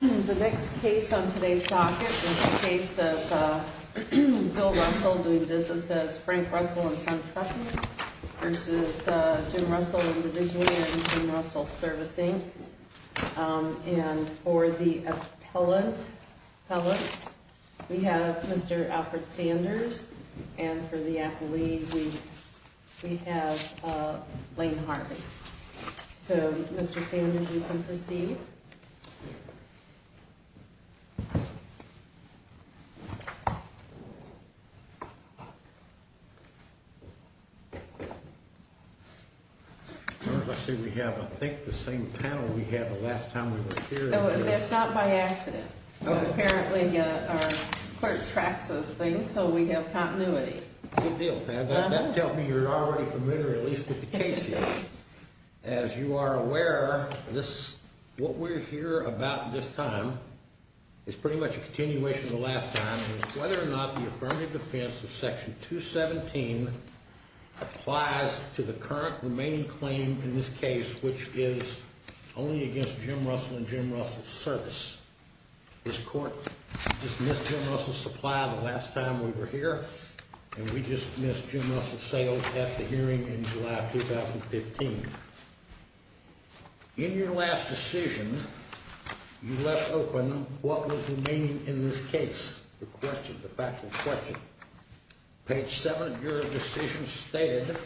The next case on today's docket is the case of Bill Russell doing business as Frank Russell in Sun Trucking, versus Jim Russell Individually and Jim Russell Servicing. And for the appellate, we have Mr. Alfred Sanders. And for the appellee, we have Lane Harvey. So, Mr. Sanders, you can proceed. I see we have, I think, the same panel we had the last time we were here. That's not by accident. Apparently, our clerk tracks those things, so we have continuity. Good deal, Pat. That tells me you're already familiar, at least, with the case here. As you are aware, what we're here about this time is pretty much a continuation of the last time, and it's whether or not the affirmative defense of Section 217 applies to the current remaining claim in this case, which is only against Jim Russell and Jim Russell Service. This court just missed Jim Russell Supply the last time we were here, and we just missed Jim Russell Sales at the hearing in July of 2015. In your last decision, you left open what was remaining in this case, the question, the factual question. Page 7 of your decision stated,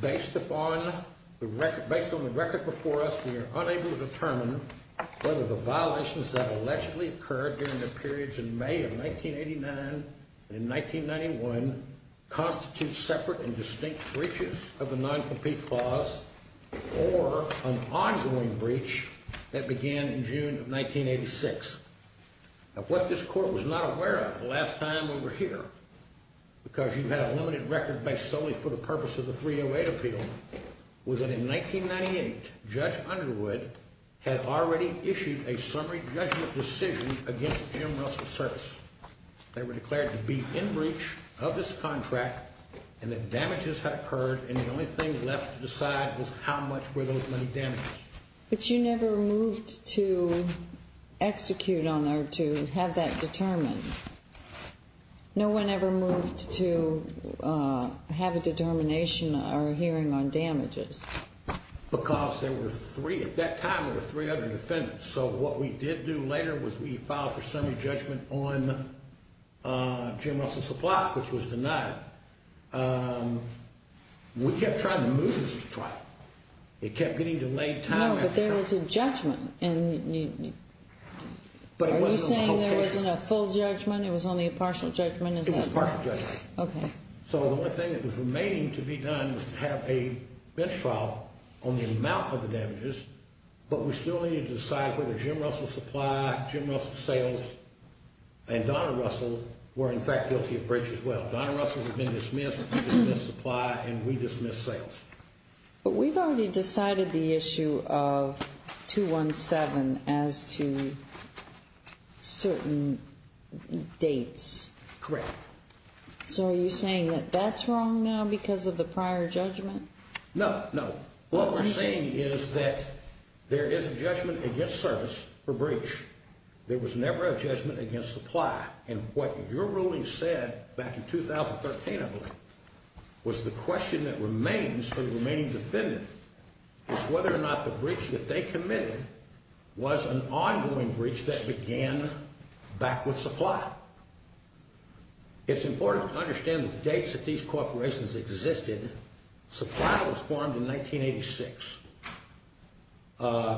Based on the record before us, we are unable to determine whether the violations that allegedly occurred during the periods in May of 1989 and in 1991 constitute separate and distinct breaches of the noncompete clause or an ongoing breach that began in June of 1986. Now, what this court was not aware of the last time we were here, because you had a limited record based solely for the purpose of the 308 appeal, was that in 1998, Judge Underwood had already issued a summary judgment decision against Jim Russell Service. They were declared to be in breach of this contract, and that damages had occurred, and the only thing left to decide was how much were those many damages. But you never moved to execute on there to have that determined. No one ever moved to have a determination or a hearing on damages. Because there were three, at that time there were three other defendants, so what we did do later was we filed for summary judgment on Jim Russell Supply, which was denied. We kept trying to move this to trial. It kept getting delayed time after time. No, but there was a judgment. Are you saying there wasn't a full judgment, it was only a partial judgment? It was a partial judgment. Okay. So the only thing that was remaining to be done was to have a bench trial on the amount of the damages, but we still needed to decide whether Jim Russell Supply, Jim Russell Sales, and Donna Russell were in fact guilty of breach as well. Donna Russell had been dismissed, we dismissed Supply, and we dismissed Sales. But we've already decided the issue of 217 as to certain dates. Correct. So are you saying that that's wrong now because of the prior judgment? No, no. What we're saying is that there is a judgment against Service for breach. There was never a judgment against Supply. And what your ruling said back in 2013, I believe, was the question that remains for the remaining defendant is whether or not the breach that they committed was an ongoing breach that began back with Supply. It's important to understand the dates that these corporations existed. Supply was formed in 1986.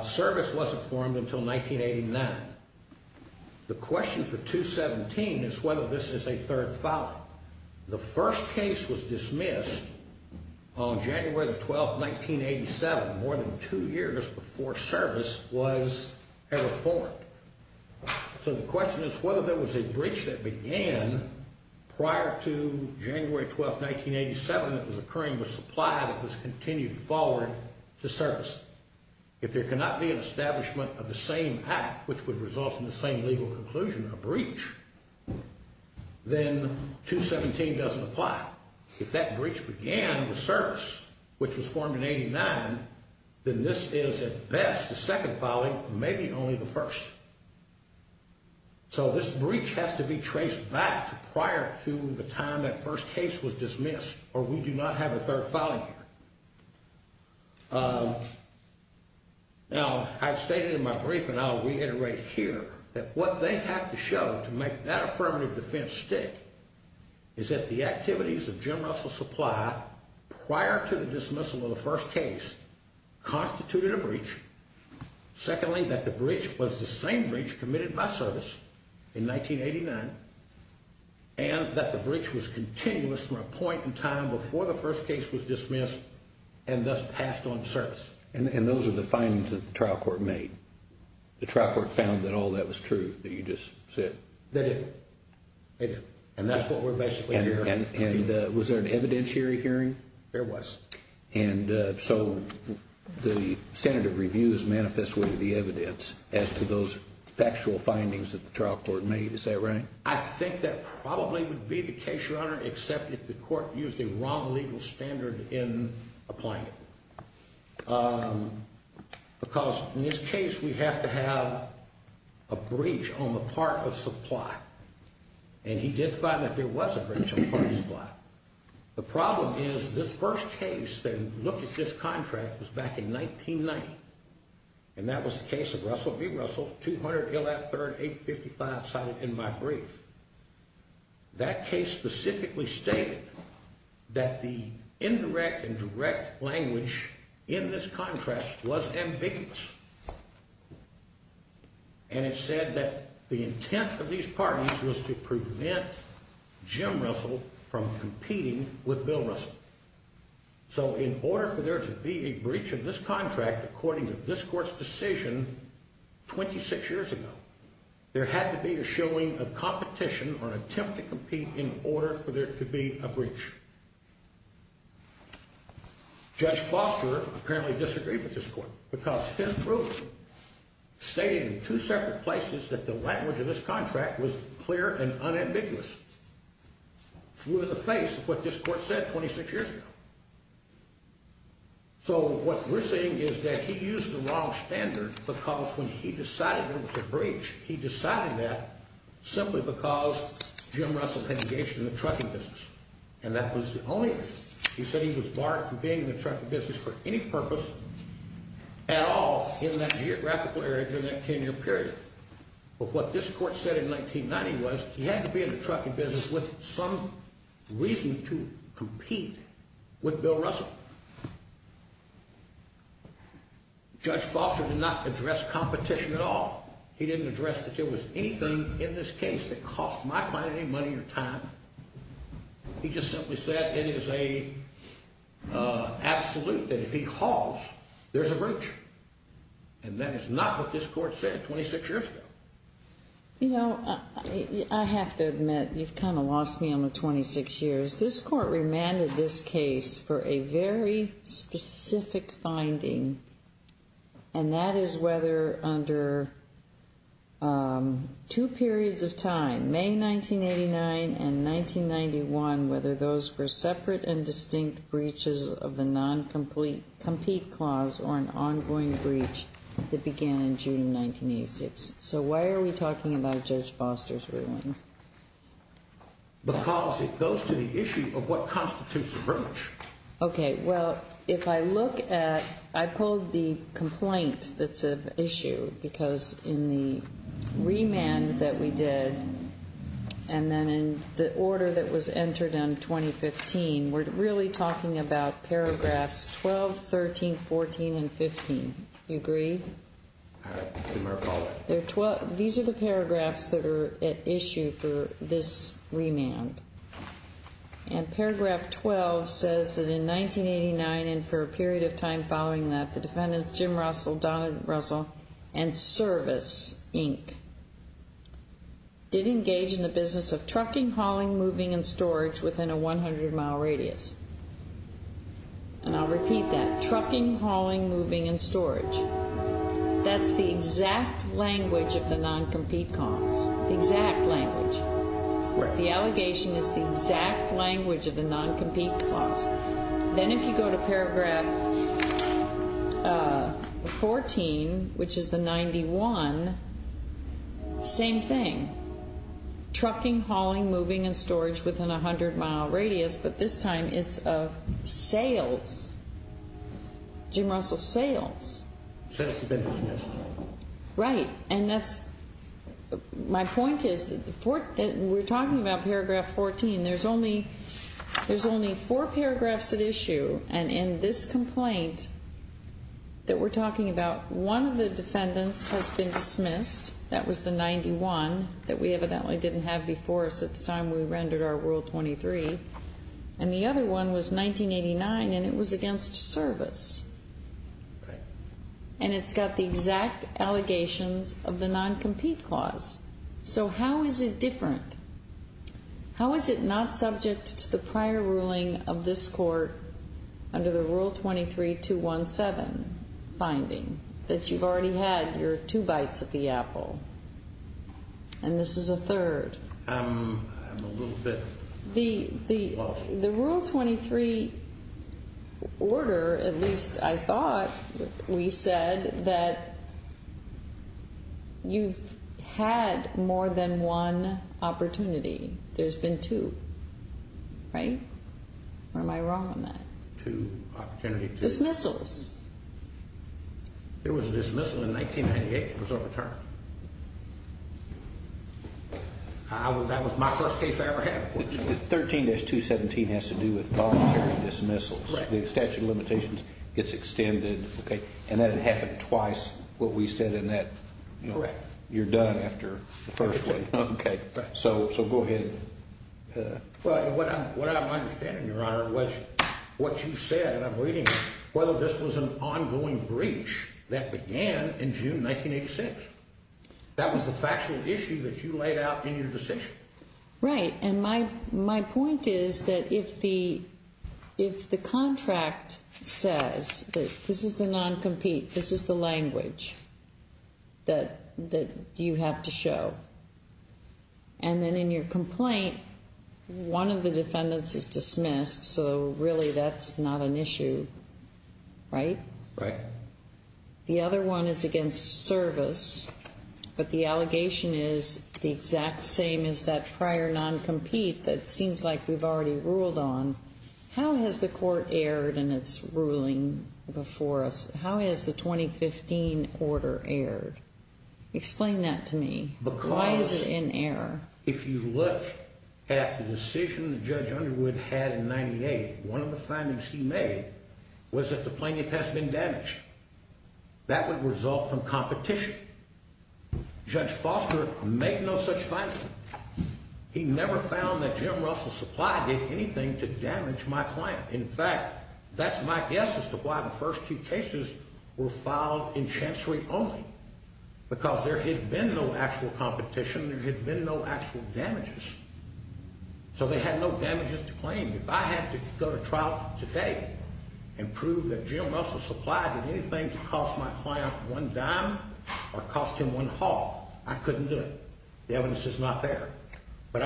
Service wasn't formed until 1989. The question for 217 is whether this is a third foul. The first case was dismissed on January 12, 1987, more than two years before Service was ever formed. So the question is whether there was a breach that began prior to January 12, 1987 that was occurring with Supply that was continued forward to Service. If there cannot be an establishment of the same act, which would result in the same legal conclusion, a breach, then 217 doesn't apply. If that breach began with Service, which was formed in 1989, then this is, at best, the second fouling, maybe only the first. So this breach has to be traced back to prior to the time that first case was dismissed or we do not have a third fouling here. Now, I've stated in my brief, and I'll reiterate here, that what they have to show to make that affirmative defense stick is that the activities of Jim Russell Supply prior to the dismissal of the first case constituted a breach. Secondly, that the breach was the same breach committed by Service in 1989 and that the breach was continuous from a point in time before the first case was dismissed and thus passed on to Service. And those are the findings that the trial court made? The trial court found that all that was true that you just said? They did. And that's what we're basically hearing. And was there an evidentiary hearing? There was. And so the standard of review is manifest with the evidence as to those factual findings that the trial court made, is that right? I think that probably would be the case, Your Honor, except if the court used a wrong legal standard in applying it. Because in this case, we have to have a breach on the part of Supply. And he did find that there was a breach on the part of Supply. The problem is this first case that looked at this contract was back in 1990, and that was the case of Russell v. Russell, 200 Illat III, 855 cited in my brief. That case specifically stated that the indirect and direct language in this contract was ambiguous. And it said that the intent of these parties was to prevent Jim Russell from competing with Bill Russell. So in order for there to be a breach of this contract, according to this court's decision 26 years ago, there had to be a showing of competition or an attempt to compete in order for there to be a breach. Judge Foster apparently disagreed with this court because his ruling stated in two separate places that the language of this contract was clear and unambiguous. It flew in the face of what this court said 26 years ago. So what we're saying is that he used the wrong standard because when he decided there was a breach, he decided that simply because Jim Russell had engaged in the trucking business. And that was the only reason. He said he was barred from being in the trucking business for any purpose at all in that geographical area during that 10-year period. But what this court said in 1990 was he had to be in the trucking business with some reason to compete with Bill Russell. Judge Foster did not address competition at all. He didn't address that there was anything in this case that cost my client any money or time. He just simply said it is an absolute that if he hauls, there's a breach. And that is not what this court said 26 years ago. You know, I have to admit, you've kind of lost me on the 26 years. This court remanded this case for a very specific finding, and that is whether under two periods of time, May 1989 and 1991, whether those were separate and distinct breaches of the non-compete clause or an ongoing breach that began in June 1986. So why are we talking about Judge Foster's ruling? Because it goes to the issue of what constitutes a breach. Okay. Well, if I look at, I pulled the complaint that's of issue because in the remand that we did and then in the order that was entered in 2015, we're really talking about paragraphs 12, 13, 14, and 15. You agree? These are the paragraphs that are at issue for this remand. And paragraph 12 says that in 1989 and for a period of time following that, the defendants Jim Russell, Donald Russell, and Service, Inc. did engage in the business of trucking, hauling, moving, and storage within a 100-mile radius. And I'll repeat that. Trucking, hauling, moving, and storage. That's the exact language of the non-compete clause. The exact language. Right. The allegation is the exact language of the non-compete clause. Then if you go to paragraph 14, which is the 91, same thing. Trucking, hauling, moving, and storage within a 100-mile radius, but this time it's of sales. Jim Russell's sales. Sales have been dismissed. Right. And that's my point is that we're talking about paragraph 14. There's only four paragraphs at issue, and in this complaint that we're talking about, one of the defendants has been dismissed. That was the 91 that we evidently didn't have before us at the time we rendered our Rule 23. And the other one was 1989, and it was against Service. Right. And it's got the exact allegations of the non-compete clause. So how is it different? How is it not subject to the prior ruling of this court under the Rule 23-217 finding that you've already had your two bites at the apple? And this is a third. I'm a little bit off. The Rule 23 order, at least I thought we said, that you've had more than one opportunity. There's been two. Right? Or am I wrong on that? Two opportunities. Dismissals. There was a dismissal in 1998. It was overturned. That was my first case I ever had. 13-217 has to do with voluntary dismissals. The statute of limitations gets extended, and that had happened twice, what we said in that. Correct. You're done after the first one. Okay. So go ahead. Well, what I'm understanding, Your Honor, was what you said, and I'm reading it, whether this was an ongoing breach that began in June 1986. That was the factual issue that you laid out in your decision. Right. And my point is that if the contract says that this is the non-compete, this is the language that you have to show, and then in your complaint, one of the defendants is dismissed, so really that's not an issue, right? Right. The other one is against service, but the allegation is the exact same as that prior non-compete that seems like we've already ruled on. How has the court erred in its ruling before us? How has the 2015 order erred? Explain that to me. Why is it in error? Because if you look at the decision that Judge Underwood had in 1998, one of the findings he made was that the plaintiff has been damaged. That would result from competition. Judge Foster made no such finding. He never found that Jim Russell's supply did anything to damage my client. In fact, that's my guess as to why the first two cases were filed in chancery only, because there had been no actual competition. There had been no actual damages. So they had no damages to claim. If I had to go to trial today and prove that Jim Russell's supply did anything to cost my client one dime or cost him one half, I couldn't do it. The evidence is not there. Then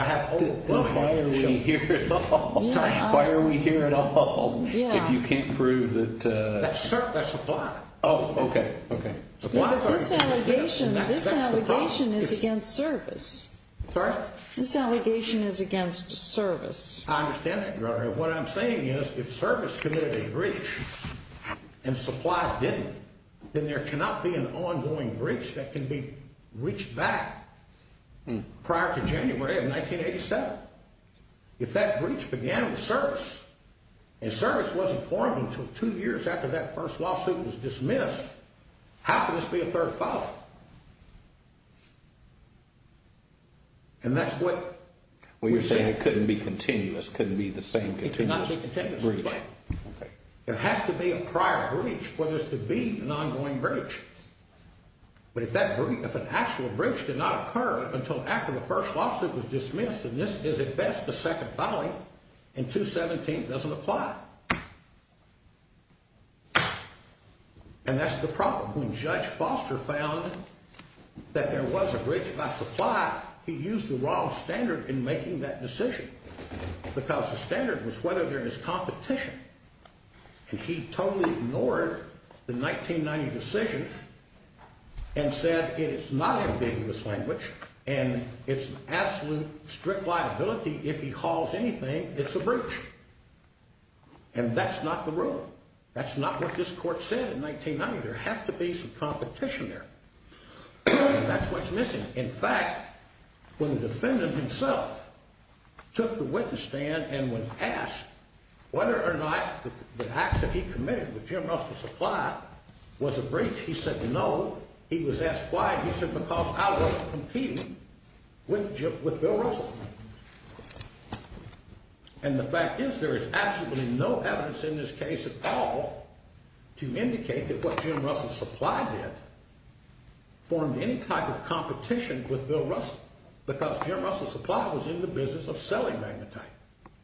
why are we here at all? Why are we here at all if you can't prove that? That's supply. Oh, okay, okay. This allegation is against service. Sorry? I understand that, Your Honor. What I'm saying is if service committed a breach and supply didn't, then there cannot be an ongoing breach that can be reached back prior to January of 1987. If that breach began with service and service wasn't formed until two years after that first lawsuit was dismissed, how can this be a third file? And that's what we're saying. It couldn't be continuous. It couldn't be the same continuous breach. It cannot be continuous. There has to be a prior breach for this to be an ongoing breach. But if an actual breach did not occur until after the first lawsuit was dismissed, then this is at best a second filing, and 217 doesn't apply. And that's the problem. When Judge Foster found that there was a breach by supply, he used the wrong standard in making that decision because the standard was whether there is competition. And he totally ignored the 1990 decision and said it is not ambiguous language and it's an absolute strict liability. If he calls anything, it's a breach. And that's not the rule. That's not what this court said in 1990. There has to be some competition there. That's what's missing. In fact, when the defendant himself took the witness stand and was asked whether or not the acts that he committed with Jim Russell Supply was a breach, he said no. He was asked why. He said because I wasn't competing with Bill Russell. And the fact is there is absolutely no evidence in this case at all to indicate that what Jim Russell Supply did formed any type of competition with Bill Russell because Jim Russell Supply was in the business of selling magnetite.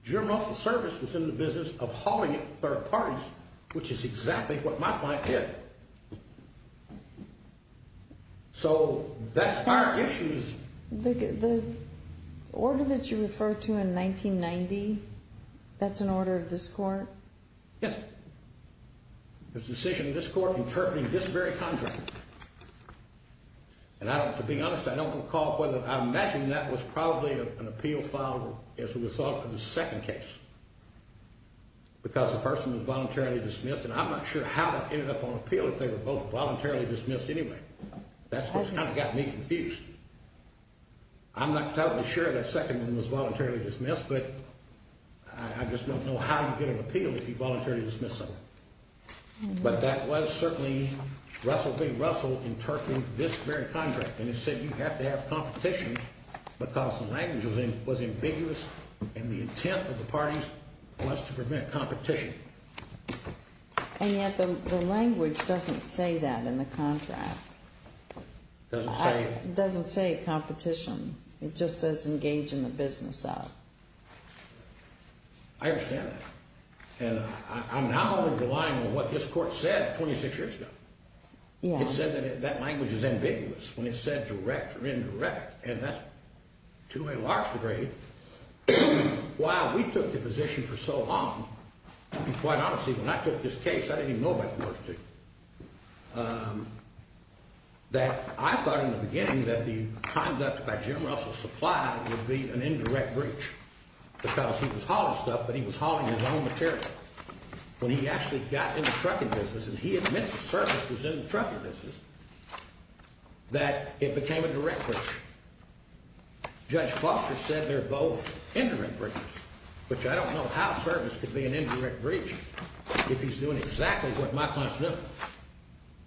Jim Russell Service was in the business of hauling it to third parties, which is exactly what my client did. So that's our issues. The order that you refer to in 1990, that's an order of this court? Yes. It's a decision of this court interpreting this very contract. And to be honest, I don't recall whether I imagine that was probably an appeal filed as a result of the second case because the first one was voluntarily dismissed. And I'm not sure how that ended up on appeal if they were both voluntarily dismissed anyway. That's what kind of got me confused. I'm not totally sure that second one was voluntarily dismissed, but I just don't know how you get an appeal if you voluntarily dismiss someone. But that was certainly Russell v. Russell interpreting this very contract. And it said you have to have competition because the language was ambiguous and the intent of the parties was to prevent competition. And yet the language doesn't say that in the contract. It doesn't say competition. It just says engage in the business of. I understand that. And I'm now relying on what this court said 26 years ago. It said that language is ambiguous when it said direct or indirect. And that's to a large degree why we took the position for so long. And quite honestly, when I took this case, I didn't even know about that. I thought in the beginning that the conduct by Jim Russell's supply would be an indirect breach because he was hauling stuff, but he was hauling his own material. When he actually got in the trucking business and he admits the service was in the trucking business, that it became a direct breach. Judge Foster said they're both indirect breaches, which I don't know how service could be an indirect breach if he's doing exactly what my client's doing.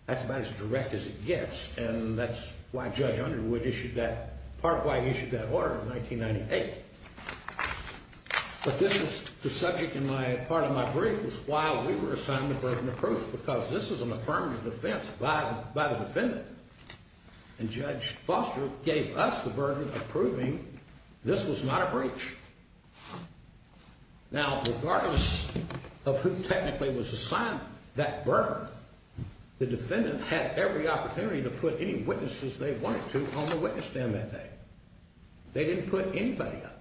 That's about as direct as it gets, and that's why Judge Underwood issued that, part of why he issued that order in 1998. But this is the subject and part of my brief was why we were assigned the burden of proof, because this is an affirmative defense by the defendant. And Judge Foster gave us the burden of proving this was not a breach. Now, regardless of who technically was assigned that burden, the defendant had every opportunity to put any witnesses they wanted to on the witness stand that day. They didn't put anybody up.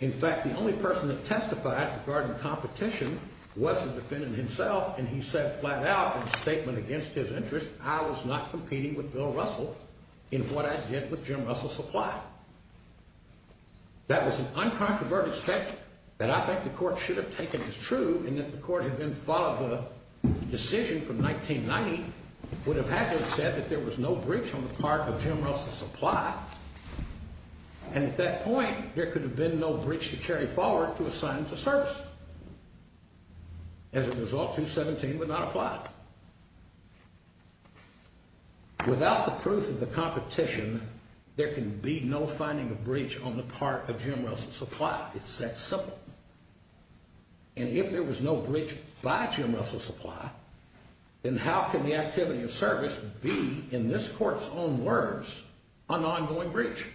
In fact, the only person that testified regarding competition was the defendant himself, and he said flat out in a statement against his interest, I was not competing with Bill Russell in what I did with Jim Russell's supply. That was an uncontroverted statement that I think the court should have taken as true, and that the court had then followed the decision from 1990, would have had to have said that there was no breach on the part of Jim Russell's supply, and at that point, there could have been no breach to carry forward to assign to service. As a result, 217 would not apply. Without the proof of the competition, there can be no finding of breach on the part of Jim Russell's supply. It's that simple. And if there was no breach by Jim Russell's supply, then how can the activity of service be, in this court's own words, an ongoing breach?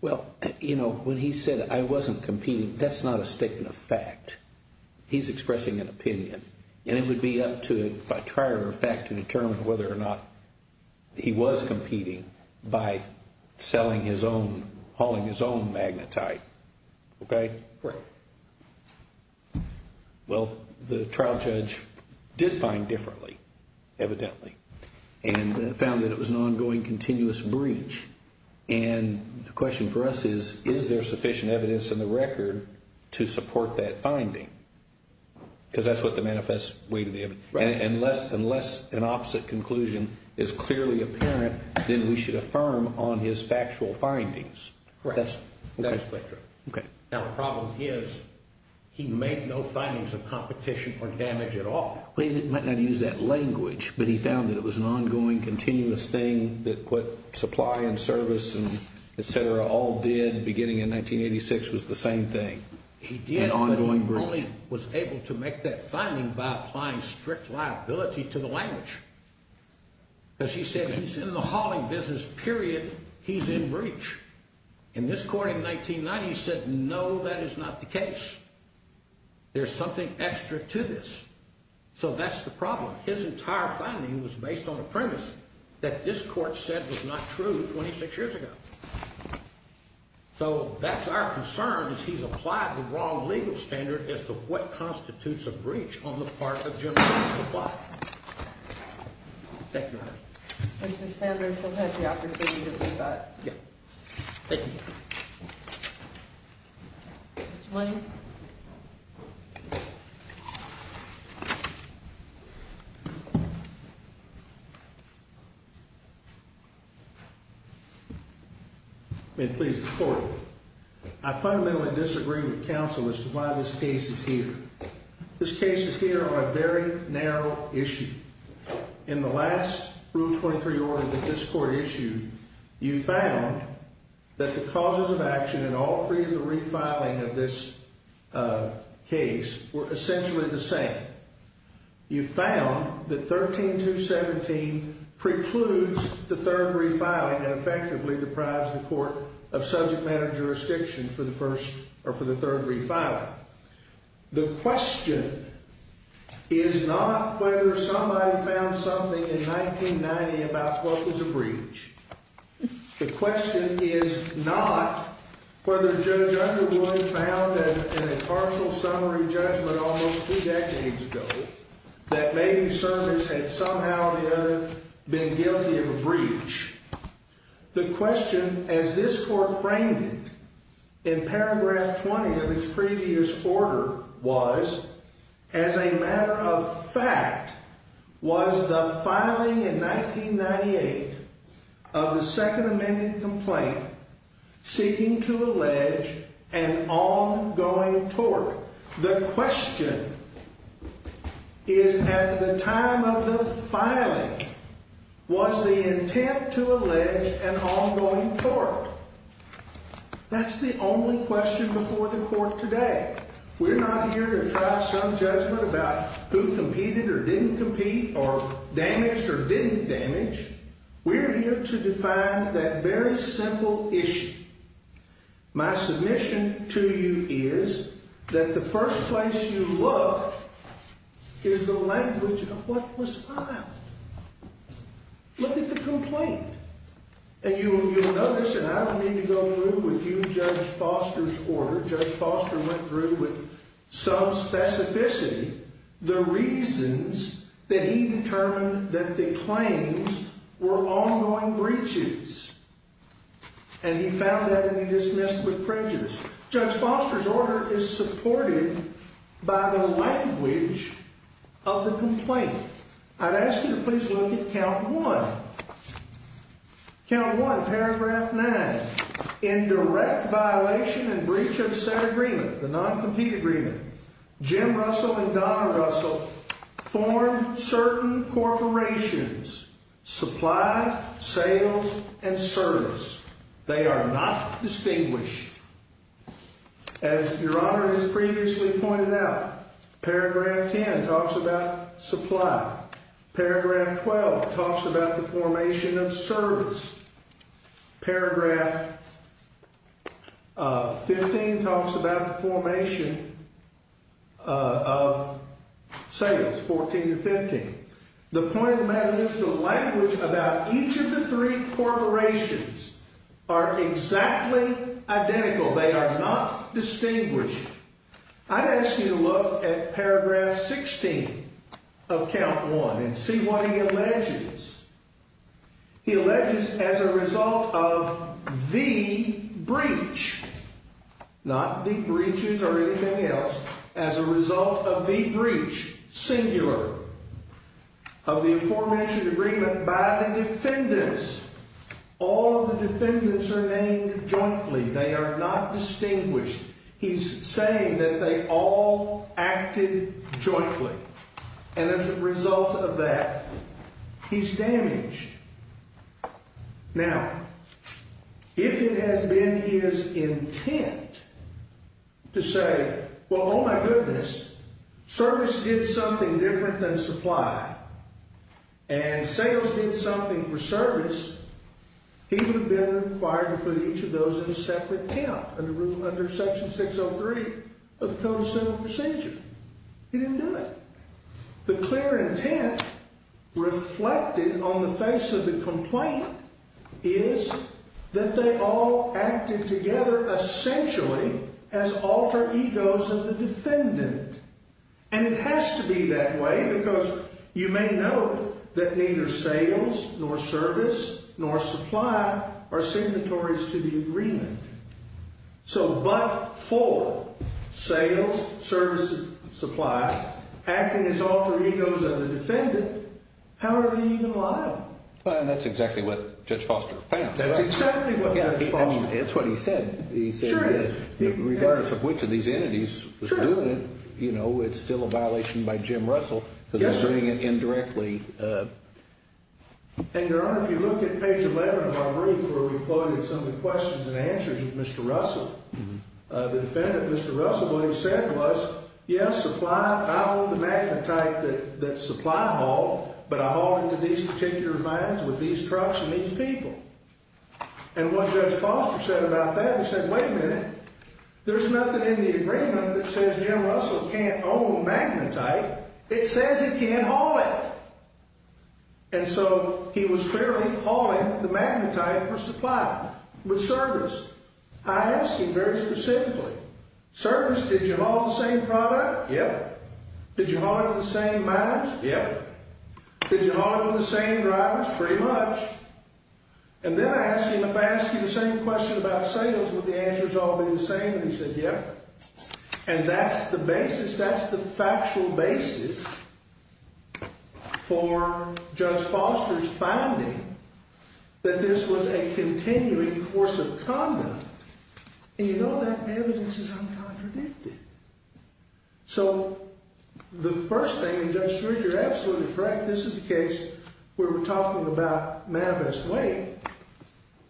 Well, you know, when he said I wasn't competing, that's not a statement of fact. He's expressing an opinion, and it would be up to, by trier of fact, to determine whether or not he was competing by selling his own, hauling his own magnetite. Okay? Right. Well, the trial judge did find differently, evidently, and found that it was an ongoing, continuous breach. And the question for us is, is there sufficient evidence in the record to support that finding? Because that's what the manifest way to the evidence. Right. Unless an opposite conclusion is clearly apparent, then we should affirm on his factual findings. Right. That is correct. Okay. Now, the problem is, he made no findings of competition or damage at all. Well, he might not have used that language, but he found that it was an ongoing, continuous thing that put supply and service, et cetera, all did beginning in 1986 was the same thing. He did, but he only was able to make that finding by applying strict liability to the language. Because he said he's in the hauling business, period, he's in breach. In this court in 1990, he said, no, that is not the case. There's something extra to this. So that's the problem. His entire finding was based on a premise that this court said was not true 26 years ago. So that's our concern, is he's applied the wrong legal standard as to what constitutes a breach on the part of general supply. Thank you, Your Honor. Mr. Sanders, you'll have the opportunity to rebut. Yeah. Thank you, Your Honor. Mr. Lane. May it please the court. I fundamentally disagree with counsel as to why this case is here. This case is here on a very narrow issue. In the last Rule 23 order that this court issued, you found that the causes of action in all three of the refiling of this case were essentially the same. You found that 13217 precludes the third refiling and effectively deprives the court of subject matter jurisdiction for the third refiling. The question is not whether somebody found something in 1990 about what was a breach. The question is not whether Judge Underwood found an impartial summary judgment almost two decades ago that maybe service had somehow or the other been guilty of a breach. The question, as this court framed it in paragraph 20 of its previous order, was, as a matter of fact, was the filing in 1998 of the Second Amendment complaint seeking to allege an ongoing tort. The question is, at the time of the filing, was the intent to allege an ongoing tort? That's the only question before the court today. We're not here to try some judgment about who competed or didn't compete or damaged or didn't damage. We're here to define that very simple issue. My submission to you is that the first place you look is the language of what was filed. Look at the complaint and you will notice, and I don't mean to go through with you Judge Foster's order. Judge Foster went through with some specificity the reasons that he determined that the claims were ongoing breaches. And he found that to be dismissed with prejudice. Judge Foster's order is supported by the language of the complaint. I'd ask you to please look at count one. Count one, paragraph nine. In direct violation and breach of set agreement, the non-compete agreement, Jim Russell and Donna Russell formed certain corporations, supply, sales, and service. They are not distinguished. As Your Honor has previously pointed out, paragraph 10 talks about supply. Paragraph 12 talks about the formation of service. Paragraph 15 talks about the formation of sales, 14 to 15. The point of the matter is the language about each of the three corporations are exactly identical. They are not distinguished. I'd ask you to look at paragraph 16 of count one and see what he alleges. He alleges as a result of the breach, not the breaches or anything else, as a result of the breach, singular. Of the formation agreement by the defendants, all of the defendants are named jointly. They are not distinguished. He's saying that they all acted jointly. And as a result of that, he's damaged. Now, if it has been his intent to say, well, oh, my goodness, service did something different than supply, and sales did something for service, he would have been required to put each of those in a separate count under section 603 of the Code of Civil Procedure. He didn't do it. The clear intent reflected on the face of the complaint is that they all acted together essentially as alter egos of the defendant. And it has to be that way because you may note that neither sales nor service nor supply are signatories to the agreement. So but for sales, services, supply, acting as alter egos of the defendant, how are they even liable? And that's exactly what Judge Foster found. That's exactly what Judge Foster found. That's what he said. He said that regardless of which of these entities was doing it, you know, it's still a violation by Jim Russell because he's doing it indirectly. And, Your Honor, if you look at page 11 of our brief where we quoted some of the questions and answers of Mr. Russell, the defendant, Mr. Russell, what he said was, yes, supply, I own the magnetite that supply hauled, but I hauled it to these particular lines with these trucks and these people. And what Judge Foster said about that, he said, wait a minute, there's nothing in the agreement that says Jim Russell can't own magnetite. It says it can't haul it. And so he was clearly hauling the magnetite for supply with service. I asked him very specifically, service, did you haul the same product? Yeah. Did you haul it to the same lines? Yeah. Did you haul it to the same drivers? Pretty much. And then I asked him if I asked you the same question about sales, would the answers all be the same? And he said, yeah. And that's the basis. That's the factual basis for Judge Foster's finding that this was a continuing course of conduct. And, you know, that evidence is uncontradicted. So the first thing, and Judge Schroeder, you're absolutely correct, this is a case where we're talking about manifest way.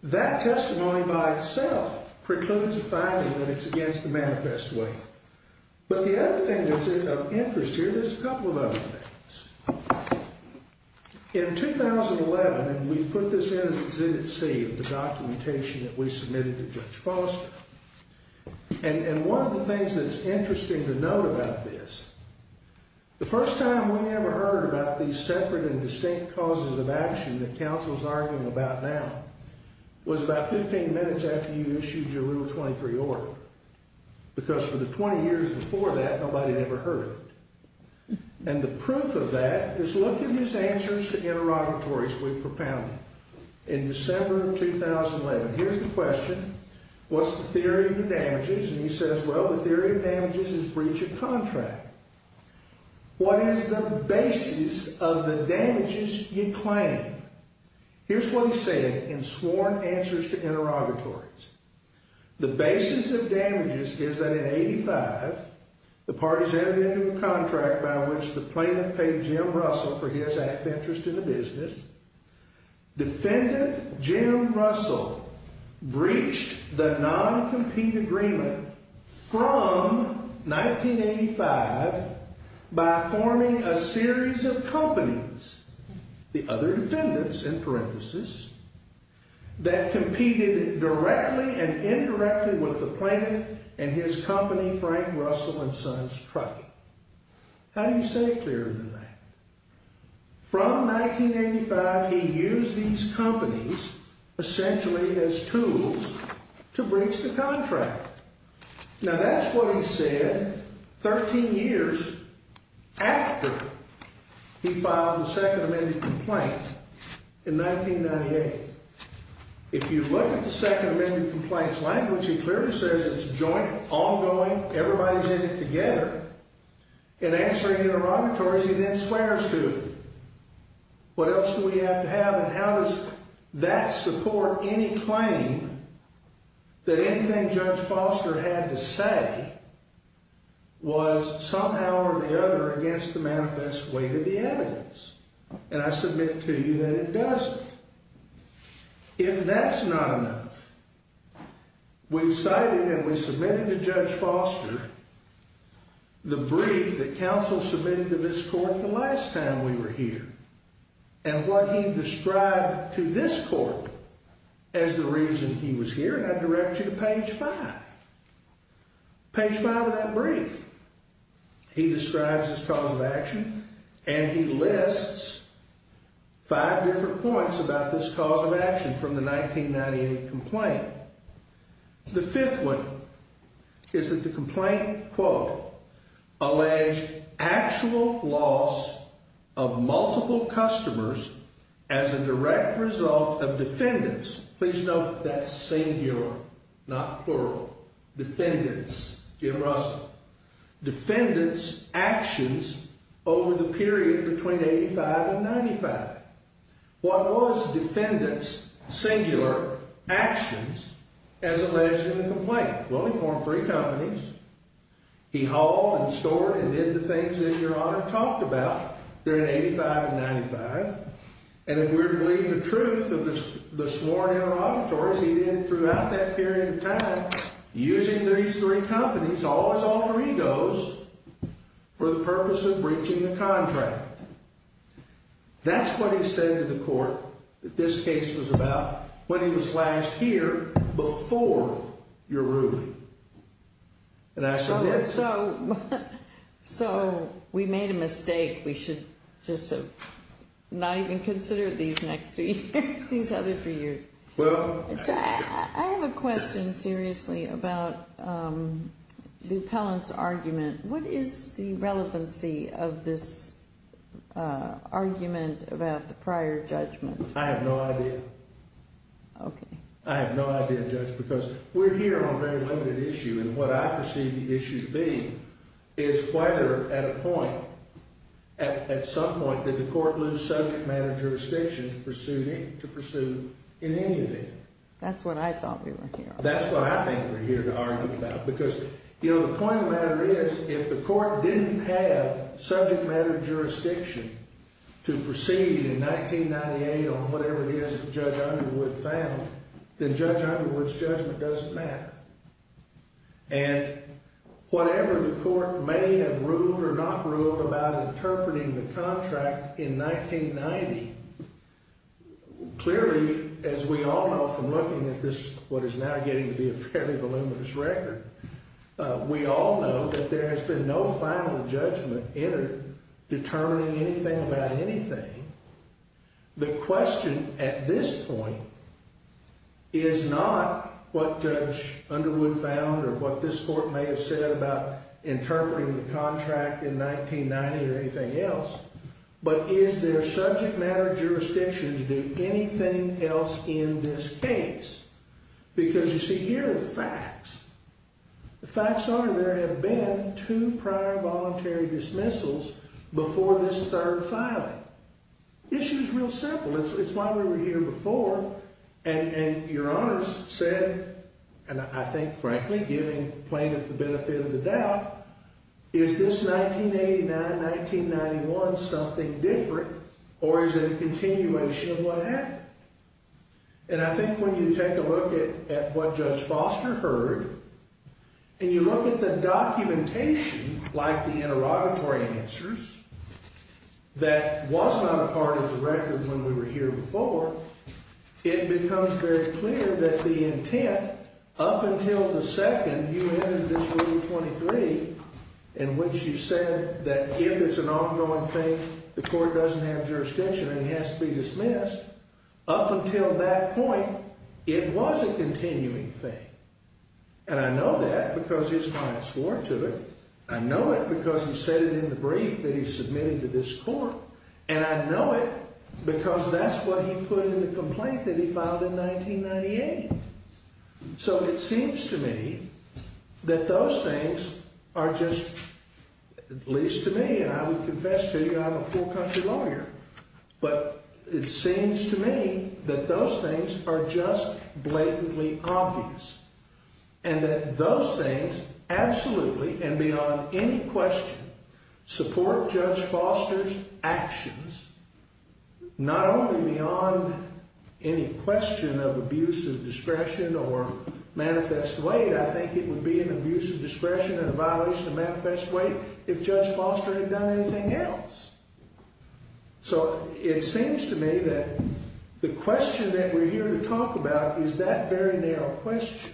That testimony by itself precludes a finding that it's against the manifest way. But the other thing that's of interest here, there's a couple of other things. In 2011, and we put this in as Exhibit C, the documentation that we submitted to Judge Foster, and one of the things that's interesting to note about this, the first time we ever heard about these separate and distinct causes of action that counsel's arguing about now was about 15 minutes after you issued your Rule 23 order. Because for the 20 years before that, nobody had ever heard of it. And the proof of that is look at these answers to interrogatories we propounded in December of 2011. Here's the question. What's the theory of the damages? And he says, well, the theory of damages is breach of contract. What is the basis of the damages you claim? Here's what he said in sworn answers to interrogatories. The basis of damages is that in 85, the parties entered into a contract by which the plaintiff paid Jim Russell for his act of interest in the business. Defendant Jim Russell breached the non-compete agreement from 1985 by forming a series of companies, the other defendants in parentheses, that competed directly and indirectly with the plaintiff and his company, Frank Russell and Sons Trucking. How do you say it clearer than that? From 1985, he used these companies essentially as tools to breach the contract. Now, that's what he said 13 years after he filed the Second Amendment complaint in 1998. If you look at the Second Amendment complaints language, he clearly says it's joint, ongoing, everybody's in it together. In answering interrogatories, he then swears to. What else do we have to have and how does that support any claim that anything Judge Foster had to say was somehow or the other against the manifest weight of the evidence? And I submit to you that it doesn't. If that's not enough, we've cited and we submitted to Judge Foster the brief that counsel submitted to this court the last time we were here and what he described to this court as the reason he was here, and I direct you to page five. Page five of that brief, he describes his cause of action and he lists five different points about this cause of action from the 1998 complaint. The fifth one is that the complaint, quote, allege actual loss of multiple customers as a direct result of defendants. Please note that singular, not plural. Defendants, Jim Russell. Defendants actions over the period between 85 and 95. What was defendants singular actions as alleged in the complaint? Well, he formed three companies. He hauled and stored and did the things that Your Honor talked about during 85 and 95. And if we're to believe the truth of the sworn interrogatories, he did throughout that period of time using these three companies, all his alter egos, for the purpose of breaching the contract. That's what he said to the court that this case was about when he was last here before your ruling. And I said yes. So we made a mistake. We should just have not even considered these next three, these other three years. I have a question seriously about the appellant's argument. What is the relevancy of this argument about the prior judgment? I have no idea. Okay. I have no idea, Judge, because we're here on a very limited issue. And what I perceive the issue to be is whether at a point, at some point, did the court lose subject matter jurisdiction to pursue in any event. That's what I thought we were here on. That's what I think we're here to argue about. Because, you know, the point of the matter is if the court didn't have subject matter jurisdiction to proceed in 1998 on whatever it is that Judge Underwood found, then Judge Underwood's judgment doesn't matter. And whatever the court may have ruled or not ruled about interpreting the contract in 1990, clearly, as we all know from looking at this, what is now getting to be a fairly voluminous record, we all know that there has been no final judgment entered determining anything about anything. The question at this point is not what Judge Underwood found or what this court may have said about interpreting the contract in 1990 or anything else, but is there subject matter jurisdiction to do anything else in this case? Because, you see, here are the facts. The facts are there have been two prior voluntary dismissals before this third filing. The issue is real simple. It's why we were here before. And your honors said, and I think, frankly, giving plaintiff the benefit of the doubt, is this 1989-1991 something different or is it a continuation of what happened? And I think when you take a look at what Judge Foster heard and you look at the documentation, like the interrogatory answers, that was not a part of the record when we were here before, it becomes very clear that the intent up until the second you entered this Rule 23, in which you said that if it's an ongoing thing, the court doesn't have jurisdiction and it has to be dismissed, up until that point, it was a continuing thing. And I know that because his client swore to it. I know it because he said it in the brief that he submitted to this court. And I know it because that's what he put in the complaint that he filed in 1998. So it seems to me that those things are just, at least to me, and I would confess to you I'm a poor country lawyer, but it seems to me that those things are just blatantly obvious. And that those things, absolutely and beyond any question, support Judge Foster's actions, not only beyond any question of abuse of discretion or manifest weight, I think it would be an abuse of discretion and a violation of manifest weight if Judge Foster had done anything else. So it seems to me that the question that we're here to talk about is that very narrow question.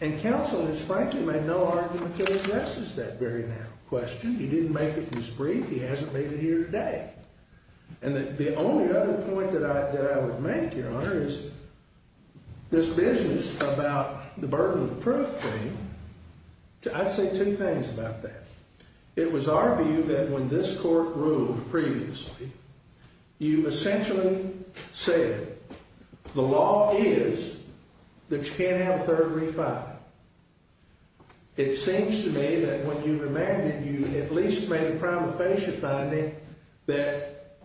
And counsel has frankly made no argument that it addresses that very narrow question. He didn't make it in his brief. He hasn't made it here today. And the only other point that I would make, Your Honor, is this business about the burden of proof thing, I'd say two things about that. It was our view that when this court ruled previously, you essentially said the law is that you can't have a third refiling. It seems to me that when you remanded, you at least made a prima facie finding that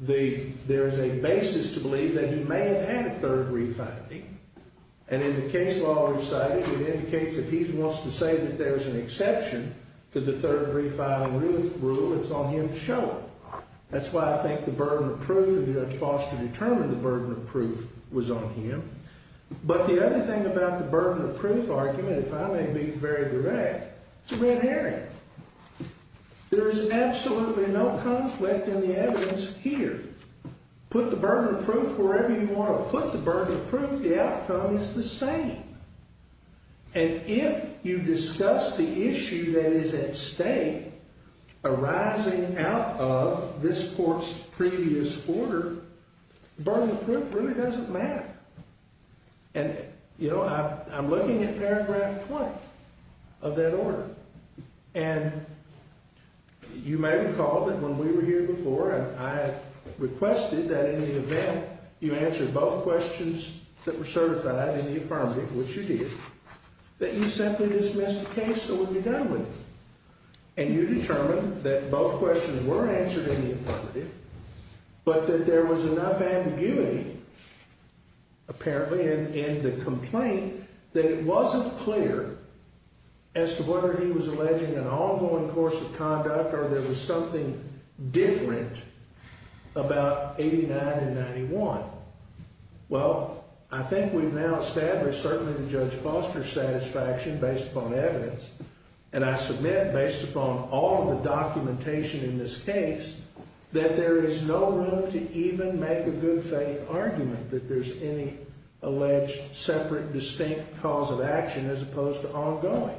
there is a basis to believe that he may have had a third refiling. And in the case law recited, it indicates that he wants to say that there is an exception to the third refiling rule. It's on him to show it. That's why I think the burden of proof, and Judge Foster determined the burden of proof was on him. But the other thing about the burden of proof argument, if I may be very direct, it's a red herring. There is absolutely no conflict in the evidence here. Put the burden of proof wherever you want to put the burden of proof, the outcome is the same. And if you discuss the issue that is at stake arising out of this court's previous order, burden of proof really doesn't matter. And, you know, I'm looking at paragraph 20 of that order. And you may recall that when we were here before, I requested that in the event you answer both questions that were certified in the affirmative, which you did, that you simply dismiss the case and we'd be done with it. And you determined that both questions were answered in the affirmative, but that there was enough ambiguity, apparently, in the complaint that it wasn't clear as to whether he was alleging an ongoing course of conduct or there was something different about 89 and 91. Well, I think we've now established, certainly to Judge Foster's satisfaction, based upon evidence, and I submit based upon all of the documentation in this case, that there is no room to even make a good faith argument that there's any alleged separate, distinct cause of action as opposed to ongoing.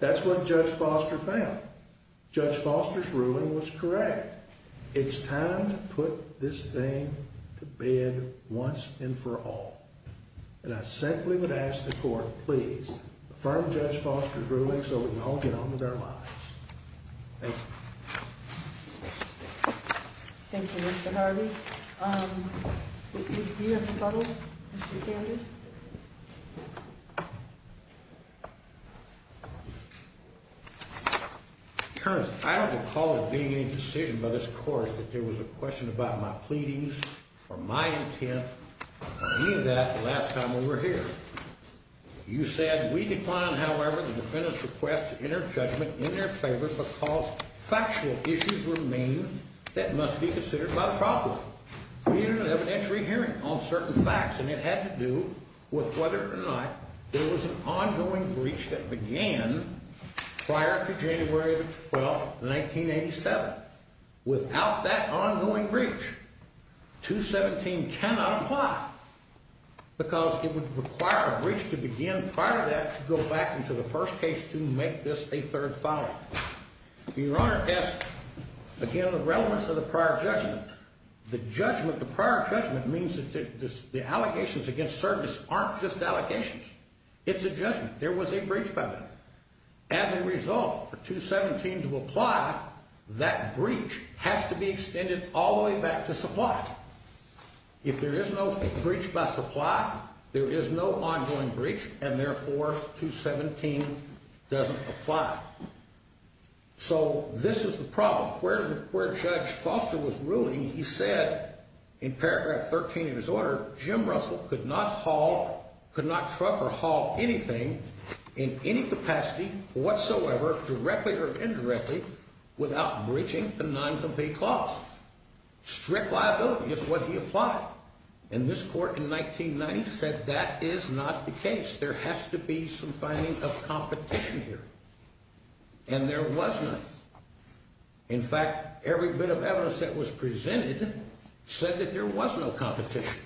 That's what Judge Foster found. Judge Foster's ruling was correct. It's time to put this thing to bed once and for all. And I simply would ask the court, please, affirm Judge Foster's ruling so we can all get on with our lives. Thank you. Thank you, Mr. Harvey. Do you have a problem, Mr. Sanders? Your Honor, I don't recall there being any decision by this court that there was a question about my pleadings or my intent or any of that the last time we were here. You said, we decline, however, the defendant's request to enter judgment in their favor because factual issues remain that must be considered by the trial court. We need an evidentiary hearing on certain facts, and it had to do with whether or not there was an ongoing breach that began prior to January the 12th, 1987. Without that ongoing breach, 217 cannot apply because it would require a breach to begin prior to that to go back into the first case to make this a third filing. Your Honor, as, again, the relevance of the prior judgment, the judgment, the prior judgment means that the allegations against service aren't just allegations. It's a judgment. There was a breach by that. As a result, for 217 to apply, that breach has to be extended all the way back to supply. If there is no breach by supply, there is no ongoing breach, and therefore, 217 doesn't apply. So this is the problem. Where Judge Foster was ruling, he said in paragraph 13 of his order, Jim Russell could not haul, could not truck or haul anything in any capacity whatsoever, directly or indirectly, without breaching the non-complete clause. Strict liability is what he applied. And this court in 1990 said that is not the case. There has to be some finding of competition here, and there was none. In fact, every bit of evidence that was presented said that there was no competition.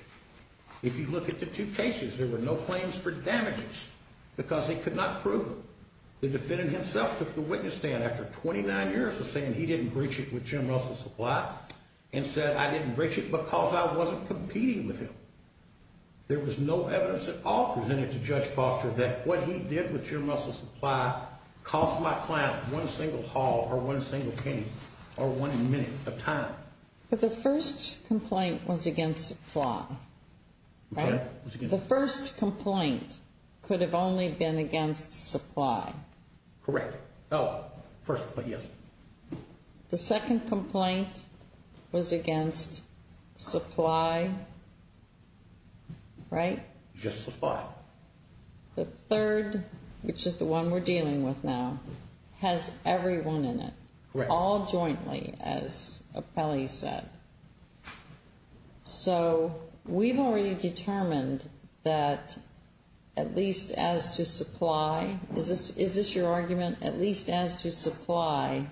If you look at the two cases, there were no claims for damages because they could not prove them. The defendant himself took the witness stand after 29 years of saying he didn't breach it with Jim Russell's supply and said I didn't breach it because I wasn't competing with him. There was no evidence at all presented to Judge Foster that what he did with Jim Russell's supply cost my client one single haul or one single cane or one minute of time. But the first complaint was against supply, right? Correct. Oh, first, but yes. The second complaint was against supply, right? Just supply. The third, which is the one we're dealing with now, has everyone in it. Correct. All jointly, as appellees said. So we've already determined that at least as to supply, is this your argument, at least as to supply?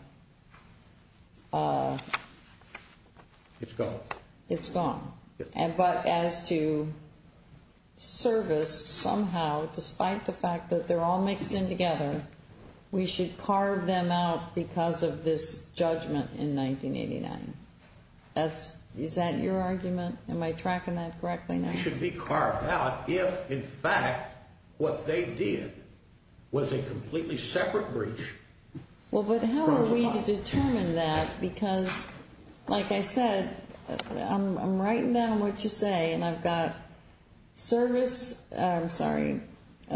It's gone. It's gone. But as to service, somehow, despite the fact that they're all mixed in together, we should carve them out because of this judgment in 1989. Is that your argument? Am I tracking that correctly now? They should be carved out if, in fact, what they did was a completely separate breach. Well, but how are we to determine that? Because, like I said, I'm writing down what you say, and I've got service. I'm sorry.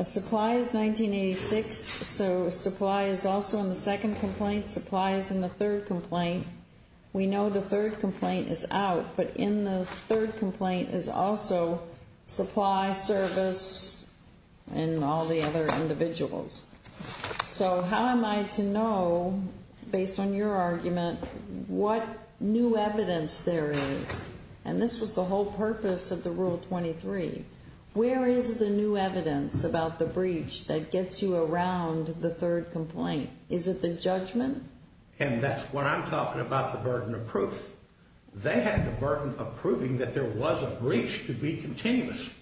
Supply is 1986, so supply is also in the second complaint. Supply is in the third complaint. We know the third complaint is out, but in the third complaint is also supply, service, and all the other individuals. So how am I to know, based on your argument, what new evidence there is? And this was the whole purpose of the Rule 23. Where is the new evidence about the breach that gets you around the third complaint? Is it the judgment? And that's what I'm talking about, the burden of proof. They had the burden of proving that there was a breach to be continuous.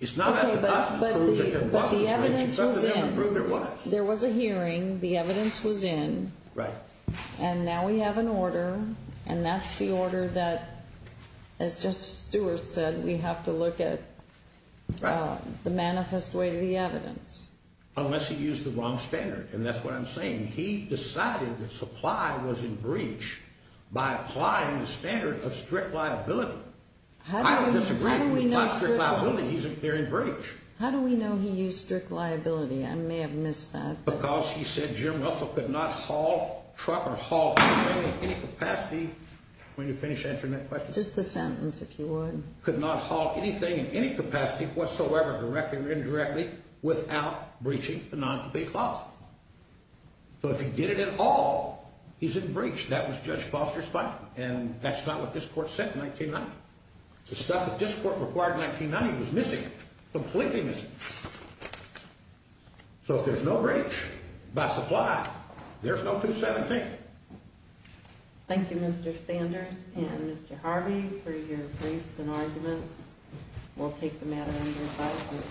It's not up to us to prove there was a breach. It's up to them to prove there was. There was a hearing. The evidence was in. Right. And now we have an order, and that's the order that, as Justice Stewart said, we have to look at the manifest way of the evidence. Unless he used the wrong standard, and that's what I'm saying. He decided that supply was in breach by applying the standard of strict liability. I don't disagree. He applied strict liability. They're in breach. How do we know he used strict liability? I may have missed that. Because he said Jim Russell could not haul truck or haul anything in any capacity. Will you finish answering that question? Just the sentence, if you would. Could not haul anything in any capacity whatsoever, directly or indirectly, without breaching the non-compete clause. So if he did it at all, he's in breach. That was Judge Foster's finding, and that's not what this court said in 1990. The stuff that this court required in 1990 was missing, completely missing. So if there's no breach by supply, there's no 217. Thank you, Mr. Sanders and Mr. Harvey, for your briefs and arguments. We'll take the matter under review.